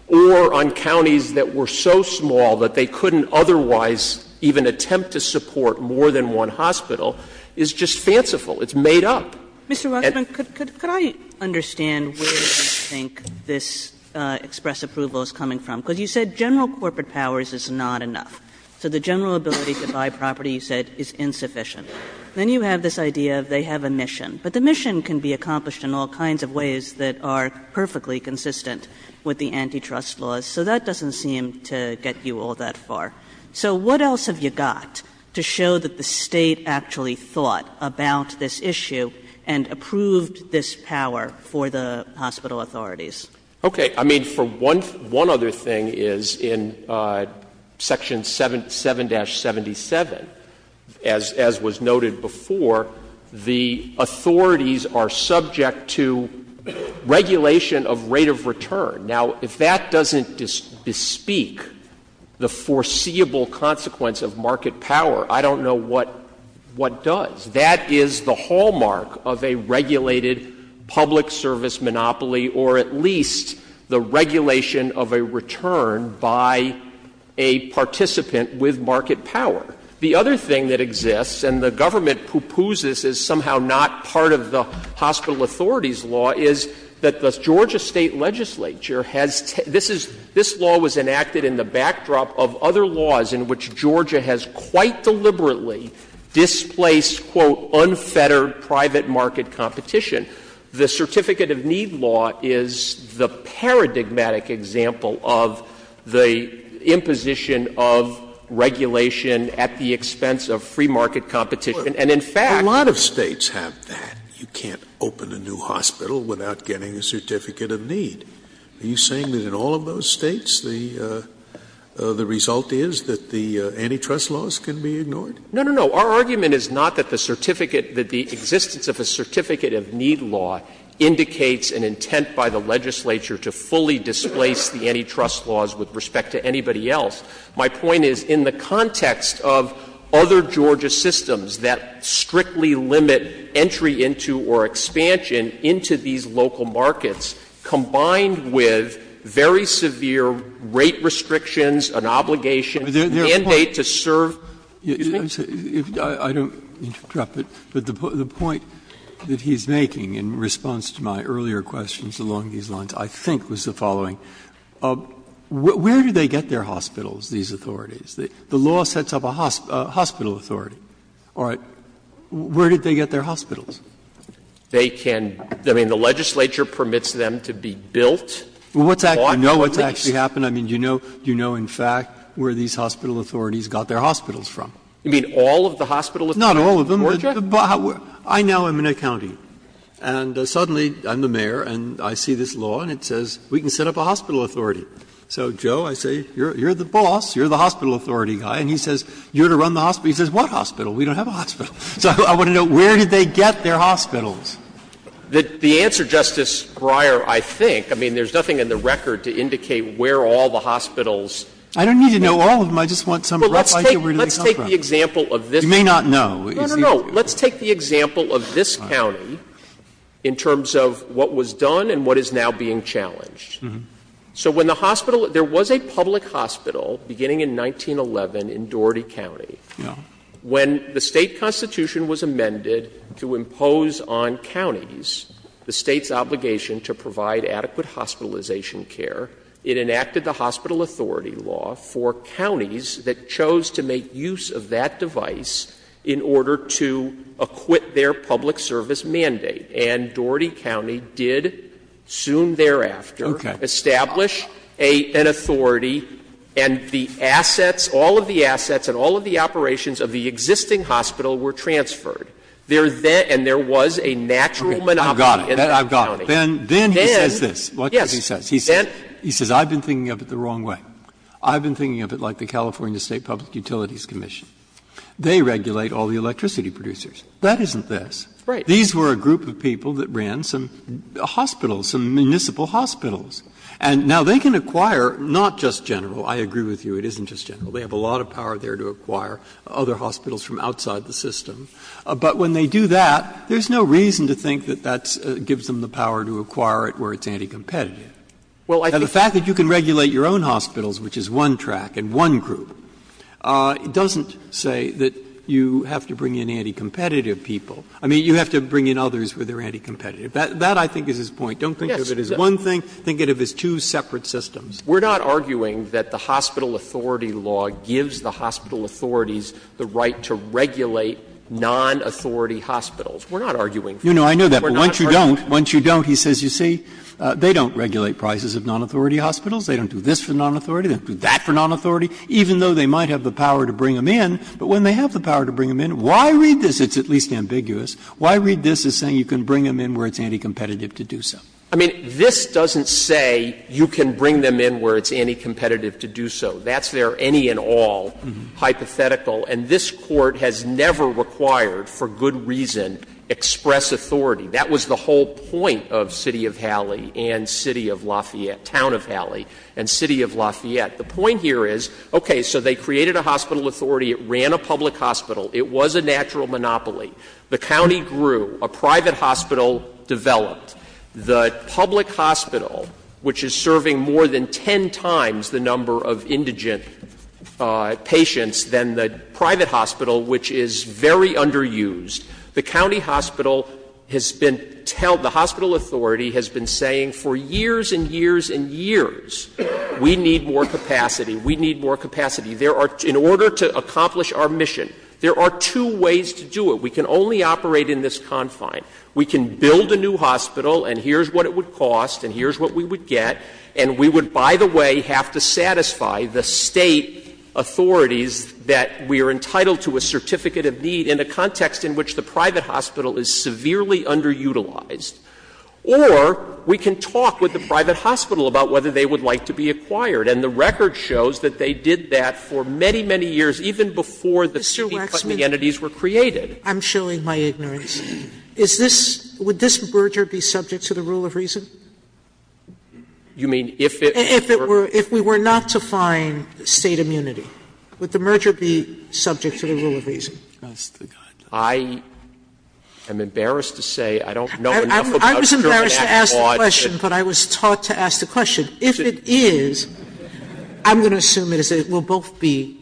or on counties that were so small that they couldn't otherwise even attempt to support more than one hospital, is just fanciful. It's made up. And — Kagan Mr. Waxman, could I understand where you think this express approval is coming from? Because you said general corporate powers is not enough. So the general ability to buy property, you said, is insufficient. Then you have this idea of they have a mission. But the mission can be accomplished in all kinds of ways that are perfectly consistent with the antitrust laws. So that doesn't seem to get you all that far. So what else have you got to show that the State actually thought about this issue and approved this power for the hospital authorities? Okay. I mean, for one — one other thing is, in Section 7 — 7-77, as — as was noted before, the authorities are subject to regulation of rate of return. Now, if that doesn't bespeak the foreseeable consequence of market power, I don't know what — what does. That is the hallmark of a regulated public service monopoly, or at least the regulation of a return by a participant with market power. The other thing that exists, and the government pupusas is somehow not part of the hospital authorities law, is that the Georgia State legislature has — this is — this law was enacted in the backdrop of other laws in which Georgia has quite deliberately displaced, quote, unfettered private market competition. The Certificate of Need law is the paradigmatic example of the imposition of regulation at the expense of free market competition. And in fact — A lot of States have that. You can't open a new hospital without getting a Certificate of Need. Are you saying that in all of those States the — the result is that the antitrust laws can be ignored? No, no, no. Our argument is not that the certificate — that the existence of a Certificate of Need law indicates an intent by the legislature to fully displace the antitrust laws with respect to anybody else. My point is, in the context of other Georgia systems that strictly limit entry into or expansion into these local markets, combined with very severe rate restrictions, an obligation, a mandate to serve — Excuse me? I don't mean to interrupt, but the point that he's making in response to my earlier questions along these lines I think was the following. Where do they get their hospitals, these authorities? The law sets up a hospital authority. All right. Where did they get their hospitals? They can — I mean, the legislature permits them to be built on the place. Well, what's actually — I know what's actually happened. I mean, you know in fact where these hospital authorities got their hospitals from. You mean all of the hospital authorities in Georgia? Not all of them. I now am an accounting. And suddenly I'm the mayor and I see this law and it says we can set up a hospital authority. So, Joe, I say you're the boss, you're the hospital authority guy, and he says you're to run the hospital. He says, what hospital? We don't have a hospital. So I want to know where did they get their hospitals? The answer, Justice Breyer, I think — I mean, there's nothing in the record to indicate where all the hospitals. I don't need to know all of them. I just want some rough idea where they come from. Well, let's take the example of this. You may not know. No, no, no. Let's take the example of this county in terms of what was done and what is now being challenged. So when the hospital — there was a public hospital beginning in 1911 in Doherty County. When the State constitution was amended to impose on counties the State's obligation to provide adequate hospitalization care, it enacted the hospital authority law for counties that chose to make use of that device in order to acquit their public service mandate. And Doherty County did soon thereafter establish an authority and the assets, all of the assets and all of the operations of the existing hospital were transferred. There then — and there was a natural monopoly in that county. Breyer, I've got it. I've got it. Then he says this. Then, yes. Watch what he says. He says, I've been thinking of it the wrong way. I've been thinking of it like the California State Public Utilities Commission. They regulate all the electricity producers. That isn't this. Right. These were a group of people that ran some hospitals, some municipal hospitals. And now they can acquire not just General. I agree with you. It isn't just General. They have a lot of power there to acquire other hospitals from outside the system. But when they do that, there's no reason to think that that gives them the power to acquire it where it's anti-competitive. Now, the fact that you can regulate your own hospitals, which is one track and one group, doesn't say that you have to bring in anti-competitive people. I mean, you have to bring in others where they're anti-competitive. That, I think, is his point. Don't think of it as one thing. Think of it as two separate systems. We're not arguing that the hospital authority law gives the hospital authorities the right to regulate non-authority hospitals. We're not arguing for that. We're not arguing for that. You know, I know that. But once you don't, once you don't, he says, you see, they don't regulate prices of non-authority hospitals. They don't do this for non-authority. They don't do that for non-authority, even though they might have the power to bring them in. But when they have the power to bring them in, why read this as at least ambiguous? Why read this as saying you can bring them in where it's anti-competitive to do so? I mean, this doesn't say you can bring them in where it's anti-competitive to do so. That's their any and all hypothetical. And this Court has never required, for good reason, express authority. That was the whole point of City of Halley and City of Lafayette, Town of Halley and City of Lafayette. The point here is, okay, so they created a hospital authority. It ran a public hospital. It was a natural monopoly. The county grew. A private hospital developed. The public hospital, which is serving more than ten times the number of indigent patients than the private hospital, which is very underused, the county hospital has been telling the hospital authority has been saying for years and years and years, we need more capacity, we need more capacity. In order to accomplish our mission, there are two ways to do it. We can only operate in this confine. We can build a new hospital and here's what it would cost and here's what we would get, and we would, by the way, have to satisfy the State authorities that we are entitled to a certificate of need in a context in which the private hospital is severely underutilized. Or we can talk with the private hospital about whether they would like to be acquired. And the record shows that they did that for many, many years, even before the city company entities were created. Sotomayor, I'm showing my ignorance. Is this – would this merger be subject to the rule of reason? If we were not to find State immunity, would the merger be subject to the rule of reason? I am embarrassed to say I don't know enough about the German Act law to say that. I was embarrassed to ask the question, but I was taught to ask the question. If it is, I'm going to assume it is. Sotomayor, we'll both be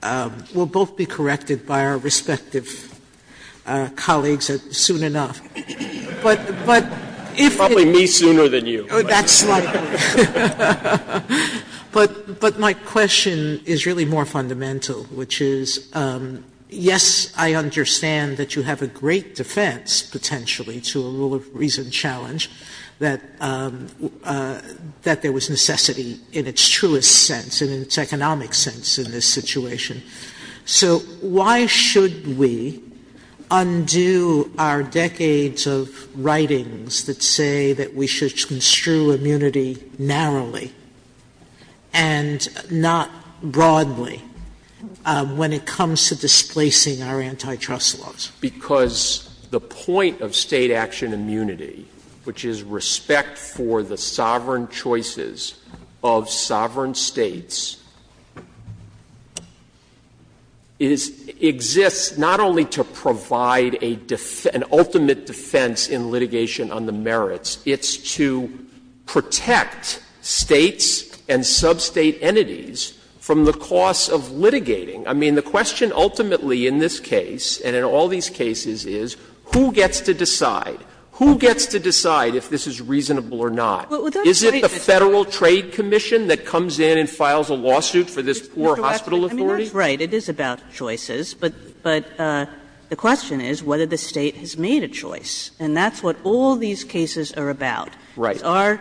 – we'll both be corrected by our respective colleagues soon enough. But if it's – Probably me sooner than you. That's likely. But my question is really more fundamental, which is, yes, I understand that you have a great defense, potentially, to a rule of reason challenge, that there was necessity in its truest sense, in its economic sense, in this situation. So why should we undo our decades of writings that say that we should construe immunity narrowly and not broadly when it comes to displacing our antitrust laws? Because the point of State action immunity, which is respect for the sovereign choices of sovereign States, is – exists not only to provide a defense – an ultimate defense in litigation on the merits, it's to protect States and sub-State entities from the costs of litigating. I mean, the question ultimately in this case, and in all these cases, is who gets to decide? Who gets to decide if this is reasonable or not? Is it the Federal Trade Commission that comes in and files a lawsuit for this poor hospital authority? I mean, that's right. It is about choices. But the question is whether the State has made a choice. And that's what all these cases are about. Right. They are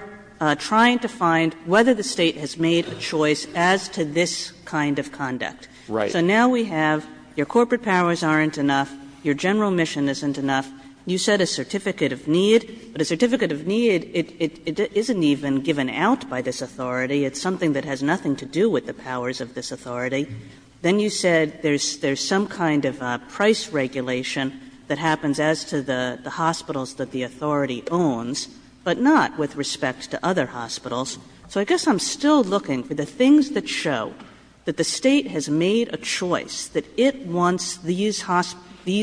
trying to find whether the State has made a choice as to this kind of conduct. Right. So now we have your corporate powers aren't enough, your general mission isn't enough. You set a certificate of need. But a certificate of need, it isn't even given out by this authority. It's something that has nothing to do with the powers of this authority. Then you said there's some kind of price regulation that happens as to the hospitals that the authority owns, but not with respect to other hospitals. So I guess I'm still looking for the things that show that the State has made a choice, that it wants these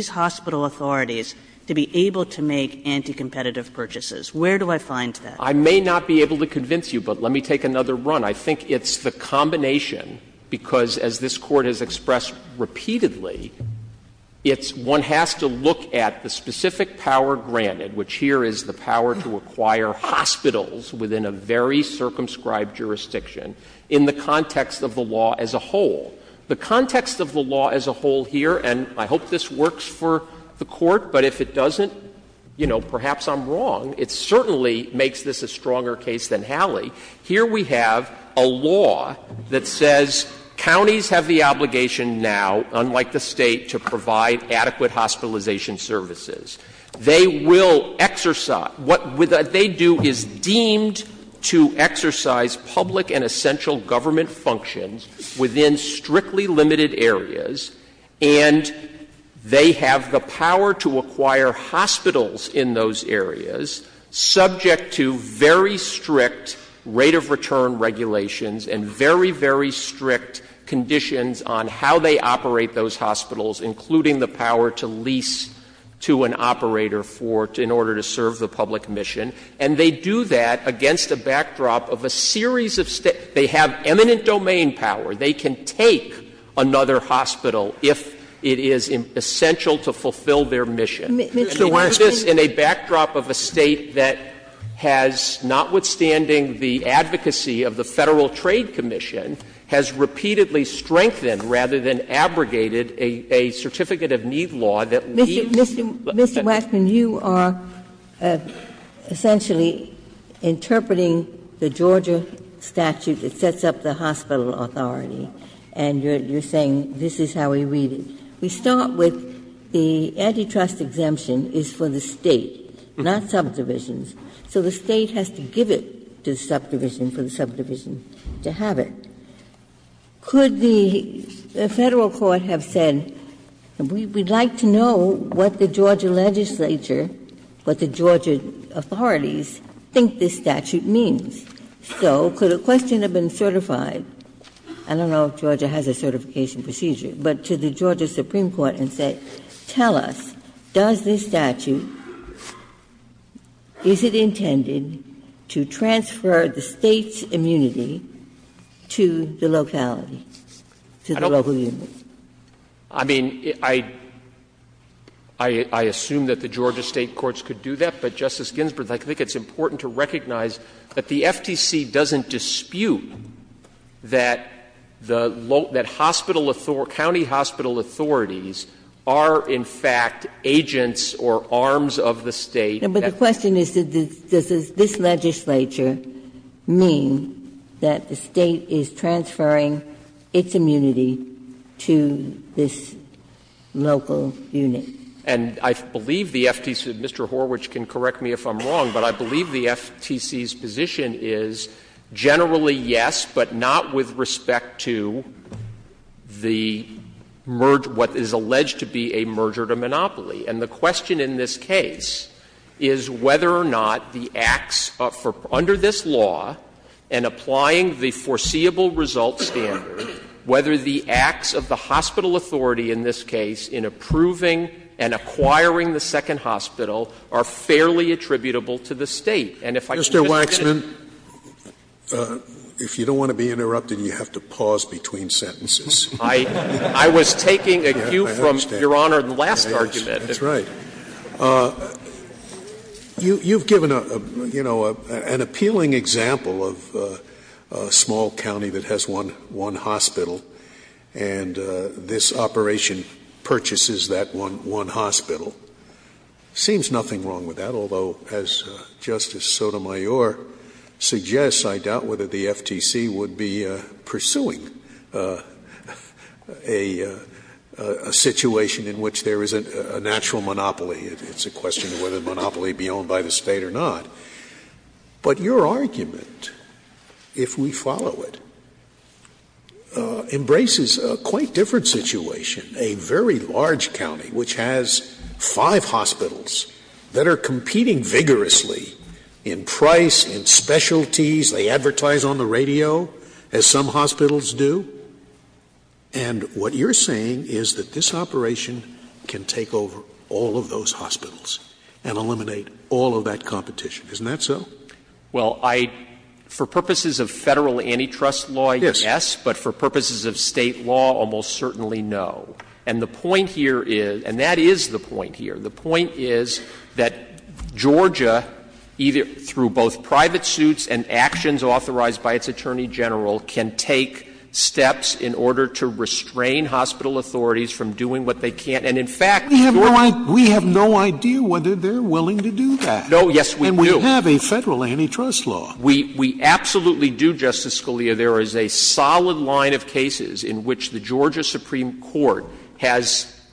hospital authorities to be able to make anti-competitive purchases. Where do I find that? I may not be able to convince you, but let me take another run. I think it's the combination, because as this Court has expressed repeatedly, it's one has to look at the specific power granted, which here is the power to acquire hospitals within a very circumscribed jurisdiction, in the context of the law as a whole. The context of the law as a whole here, and I hope this works for the Court, but if it doesn't, you know, perhaps I'm wrong, it certainly makes this a stronger case than Hallie, here we have a law that says counties have the obligation now, unlike the State, to provide adequate hospitalization services. They will exercise — what they do is deemed to exercise public and essential government functions within strictly limited areas, and they have the power to acquire hospitals in those areas subject to very strict rate of return regulations and very, very strict conditions on how they operate those hospitals, including the power to lease to an operator for — in order to serve the public mission. And they do that against a backdrop of a series of — they have eminent domain power, they can take another hospital if it is essential to fulfill their mission. And they do this in a backdrop of a State that has, notwithstanding the advocacy of the Federal Trade Commission, has repeatedly strengthened, rather than abrogated, a certificate of need law that leaves— Ginsburg. Mr. Waxman, you are essentially interpreting the Georgia statute that sets up the hospital authority, and you're saying this is how we read it. We start with the antitrust exemption is for the State, not subdivisions. So the State has to give it to the subdivision for the subdivision to have it. Could the Federal court have said, we would like to know what the Georgia legislature, what the Georgia authorities think this statute means. So could a question have been certified — I don't know if Georgia has a certification procedure — but to the Georgia Supreme Court and say, tell us, does this statute — is it intended to transfer the State's immunity to the locality, to the local Waxman. I mean, I — I assume that the Georgia State courts could do that, but, Justice Ginsburg, I think it's important to recognize that the FTC doesn't dispute that the local — that hospital — county hospital authorities are, in fact, agents or arms of the State. Ginsburg. But the question is, does this legislature mean that the State is transferring its immunity to this local unit? Waxman. And I believe the FTC — Mr. Horwich can correct me if I'm wrong, but I believe the FTC's position is generally, yes, but not with respect to the — what is alleged to be a merger to monopoly. And the question in this case is whether or not the acts for — under this law, and applying the foreseeable result standard, whether the acts of the hospital authority in this case in approving and acquiring the second hospital are fairly attributable to the State. And if I can just finish. Scalia. Mr. Waxman, if you don't want to be interrupted, you have to pause between sentences. Waxman. I was taking a cue from Your Honor's last argument. Scalia. That's right. You've given a, you know, an appealing example of a small county that has one hospital, and this operation purchases that one hospital. Seems nothing wrong with that, although as Justice Sotomayor suggests, I doubt whether the FTC would be pursuing a situation in which there is a natural monopoly. It's a question of whether the monopoly be owned by the State or not. But your argument, if we follow it, embraces a quite different situation. A very large in price, in specialties. They advertise on the radio, as some hospitals do. And what you're saying is that this operation can take over all of those hospitals and eliminate all of that competition. Isn't that so? Waxman. Well, I — for purposes of Federal antitrust law, yes. Scalia. Yes. Waxman. But for purposes of State law, almost certainly no. And the point here is — and the point here is that Georgia, either — through both private suits and actions authorized by its Attorney General, can take steps in order to restrain hospital authorities from doing what they can't. And, in fact, Georgia can do that. Scalia. We have no idea whether they're willing to do that. Waxman. No, yes, we do. Scalia. And we have a Federal antitrust law. Waxman. We absolutely do, Justice Scalia. There is a solid line of cases in which the Georgia Supreme Court has —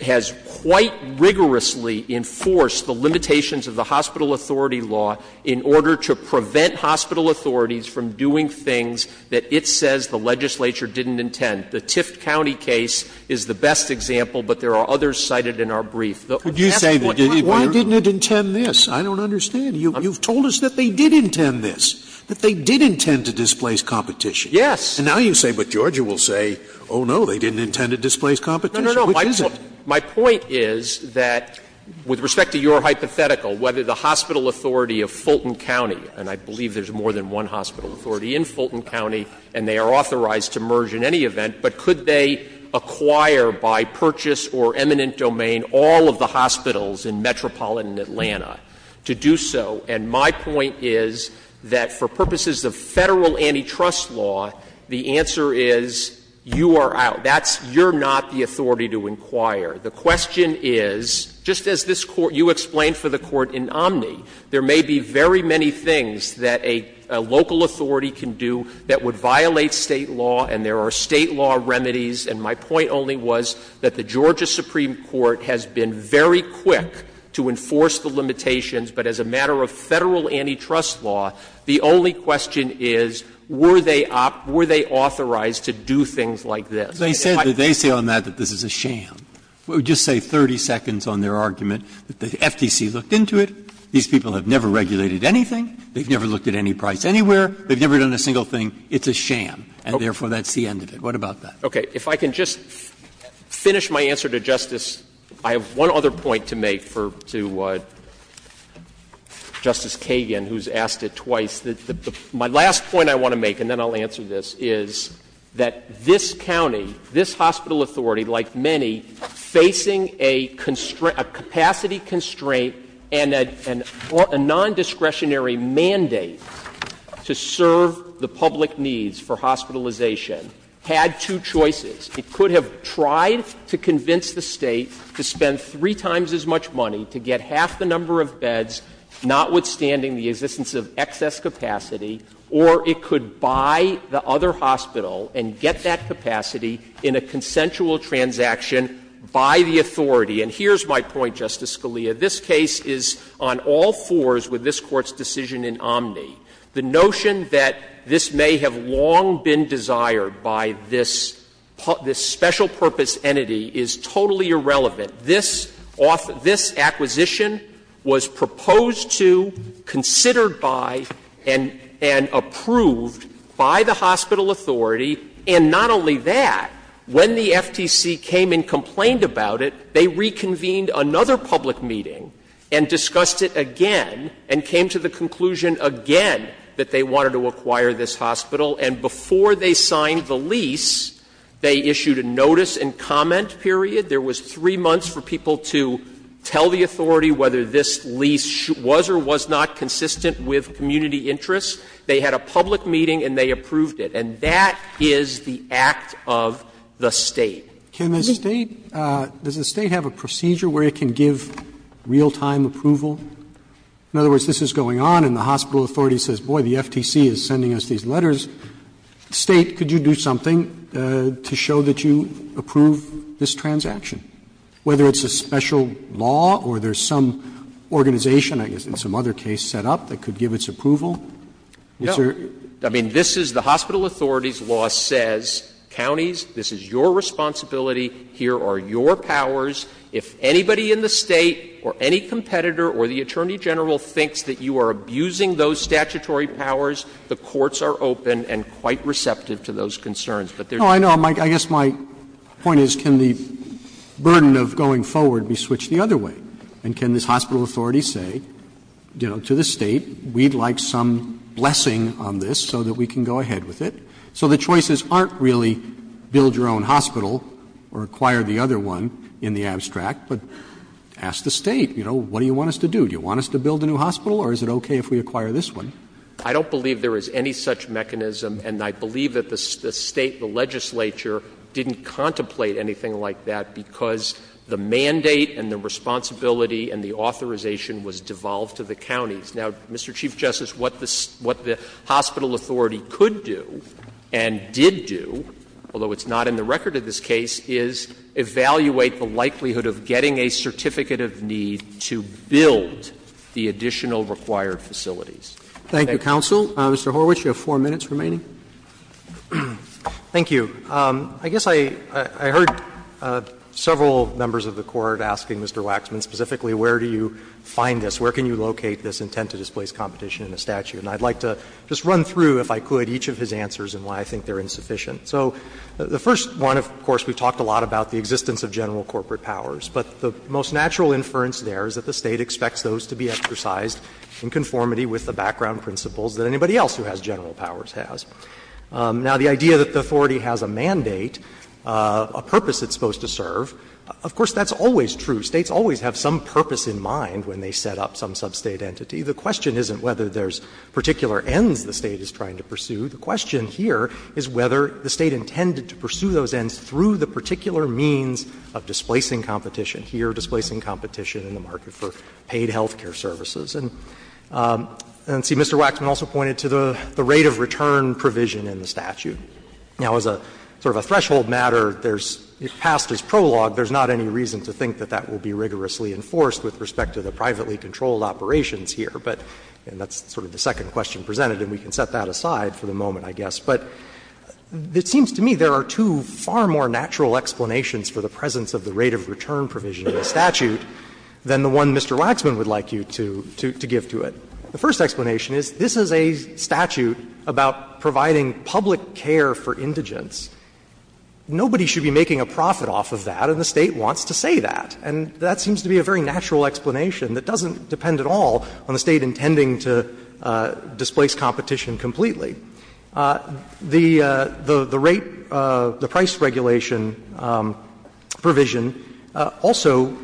has quite rigorously enforced the limitations of the hospital authority law in order to prevent hospital authorities from doing things that it says the legislature didn't intend. The Tift County case is the best example, but there are others cited in our brief. Scalia. Would you say that — why didn't it intend this? I don't understand. You've told us that they did intend this, that they did intend to displace competition. Waxman. Yes. Scalia. And now you say, but Georgia will say, oh, no, they didn't intend to displace Waxman. No, no, no. Scalia. Which is it? Waxman. My point is that, with respect to your hypothetical, whether the hospital authority of Fulton County — and I believe there's more than one hospital authority in Fulton County, and they are authorized to merge in any event, but could they acquire by purchase or eminent domain all of the hospitals in metropolitan Atlanta to do so? And my point is that, for purposes of Federal antitrust law, the answer is, you are out. That's — you're not the authority to inquire. The question is, just as this Court — you explained for the Court in Omni, there may be very many things that a local authority can do that would violate State law, and there are State law remedies. And my point only was that the Georgia Supreme Court has been very quick to enforce the limitations, but as a matter of Federal antitrust law, the only question is, were they authorized to do things like this? Breyer. They said that they say on that that this is a sham. We'll just say 30 seconds on their argument that the FTC looked into it. These people have never regulated anything. They've never looked at any price anywhere. They've never done a single thing. It's a sham, and therefore that's the end of it. What about that? Waxman. Okay. If I can just finish my answer to Justice — I have one other point to make for — to Justice Kagan, who's asked it twice. My last point I want to make, and then I'll answer this, is that this county, this hospital authority, like many, facing a capacity constraint and a nondiscretionary mandate to serve the public needs for hospitalization, had two choices. It could have tried to convince the State to spend three times as much money to get half the number of beds, notwithstanding the existence of excess capacity, or it could buy the other hospital and get that capacity in a consensual transaction by the authority. And here's my point, Justice Scalia. This case is on all fours with this Court's decision in Omni. The notion that this may have long been desired by this special purpose entity is totally irrelevant. This acquisition was proposed to, considered by, and approved by the hospital authority, and not only that, when the FTC came and complained about it, they reconvened another public meeting and discussed it again, and came to the conclusion again that they wanted to acquire this hospital, and before they signed the lease, they issued a notice and comment period. There was three months for people to tell the authority whether this lease was or was not consistent with community interests. They had a public meeting and they approved it. And that is the act of the State. Roberts Does the State have a procedure where it can give real-time approval? In other words, this is going on and the hospital authority says, boy, the FTC is sending us these letters. State, could you do something to show that you approve this transaction? Whether it's a special law or there's some organization, I guess in some other case, set up that could give its approval. Is there? I mean, this is the hospital authority's law says, counties, this is your responsibility, here are your powers. If anybody in the State or any competitor or the attorney general thinks that you are abusing those statutory powers, the courts are open and quite receptive to those But there's no way to do that. Roberts No, I know. I guess my point is, can the burden of going forward be switched the other way? And can this hospital authority say, you know, to the State, we'd like some blessing on this so that we can go ahead with it? So the choices aren't really build your own hospital or acquire the other one in the abstract, but ask the State, you know, what do you want us to do? Do you want us to build a new hospital or is it okay if we acquire this one? I don't believe there is any such mechanism, and I believe that the State, the legislature didn't contemplate anything like that because the mandate and the responsibility and the authorization was devolved to the counties. Now, Mr. Chief Justice, what the hospital authority could do and did do, although it's not in the record of this case, is evaluate the likelihood of getting a certificate of need to build the additional required facilities. Thank you. Roberts Thank you, counsel. Mr. Horwich, you have 4 minutes remaining. Horwich, thank you. I guess I heard several members of the Court asking Mr. Waxman specifically, where do you find this, where can you locate this intent to displace competition in a statute? And I'd like to just run through, if I could, each of his answers and why I think they're insufficient. So the first one, of course, we've talked a lot about the existence of general corporate powers, but the most natural inference there is that the State expects those to be exercised in conformity with the background principles that anybody else who has general powers has. Now, the idea that the authority has a mandate, a purpose it's supposed to serve, of course, that's always true. States always have some purpose in mind when they set up some sub-State entity. The question isn't whether there's particular ends the State is trying to pursue. The question here is whether the State intended to pursue those ends through the particular means of displacing competition, here displacing competition in the market for paid health care services. And, see, Mr. Waxman also pointed to the rate of return provision in the statute. Now, as a sort of a threshold matter, there's the past is prologue. There's not any reason to think that that will be rigorously enforced with respect to the privately controlled operations here. But that's sort of the second question presented, and we can set that aside for the moment, I guess. But it seems to me there are two far more natural explanations for the presence of the rate of return provision in the statute than the one Mr. Waxman would like you to give to it. The first explanation is this is a statute about providing public care for indigents. Nobody should be making a profit off of that, and the State wants to say that. And that seems to be a very natural explanation that doesn't depend at all on the State intending to displace competition completely. The rate, the price regulation provision also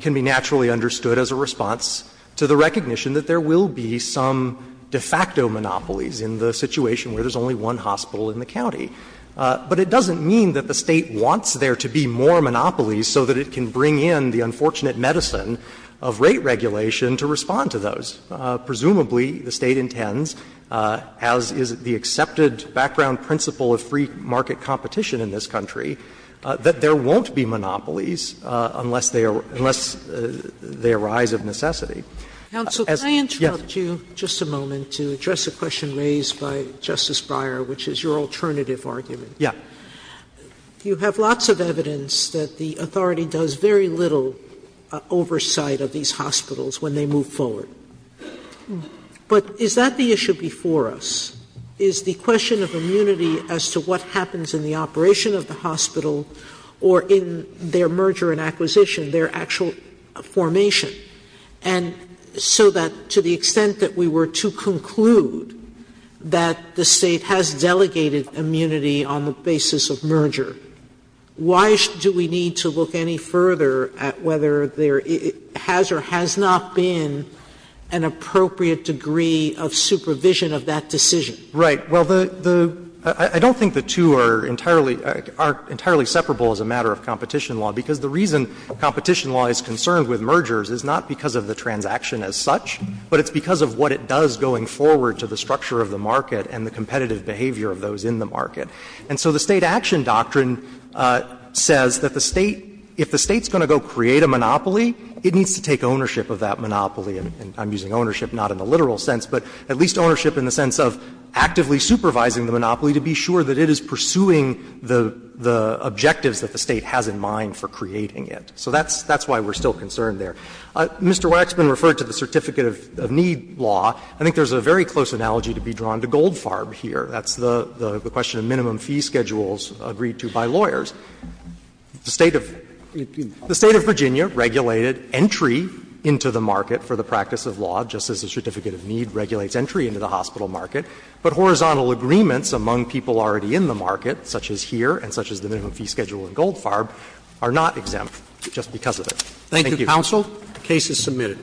can be naturally understood as a response to the recognition that there will be some de facto monopolies in the situation where there's only one hospital in the county. But it doesn't mean that the State wants there to be more monopolies so that it can bring in the unfortunate medicine of rate regulation to respond to those. Presumably, the State intends, as is the accepted background principle of free market competition in this country, that there won't be monopolies unless they arise of necessity. Sotomayor, yes. Sotomayor, I interrupt you just a moment to address a question raised by Justice Breyer, which is your alternative argument. Yes. You have lots of evidence that the authority does very little oversight of these hospitals when they move forward. But is that the issue before us? Is the question of immunity as to what happens in the operation of the hospital or in their merger and acquisition, their actual formation? And so that to the extent that we were to conclude that the State has delegated immunity on the basis of merger, why do we need to look any further at whether there has or has not been an appropriate degree of supervision of that decision? Right. Well, the — I don't think the two are entirely — aren't entirely separable as a matter of competition law, because the reason competition law is concerned with mergers is not because of the transaction as such, but it's because of what it does going forward to the structure of the market and the competitive behavior of those in the market. And so the State action doctrine says that the State, if the State's going to go create a monopoly, it needs to take ownership of that monopoly. And I'm using ownership not in the literal sense, but at least ownership in the sense of actively supervising the monopoly to be sure that it is pursuing the objectives that the State has in mind for creating it. So that's why we're still concerned there. Mr. Waxman referred to the Certificate of Need law. I think there's a very close analogy to be drawn to Goldfarb here. That's the question of minimum fee schedules agreed to by lawyers. The State of Virginia regulated entry into the market for the practice of law, just as the Certificate of Need regulates entry into the hospital market, but horizontal agreements among people already in the market, such as here and such as the minimum fee schedule in Goldfarb, are not exempt just because of it. Roberts. Thank you, counsel. The case is submitted.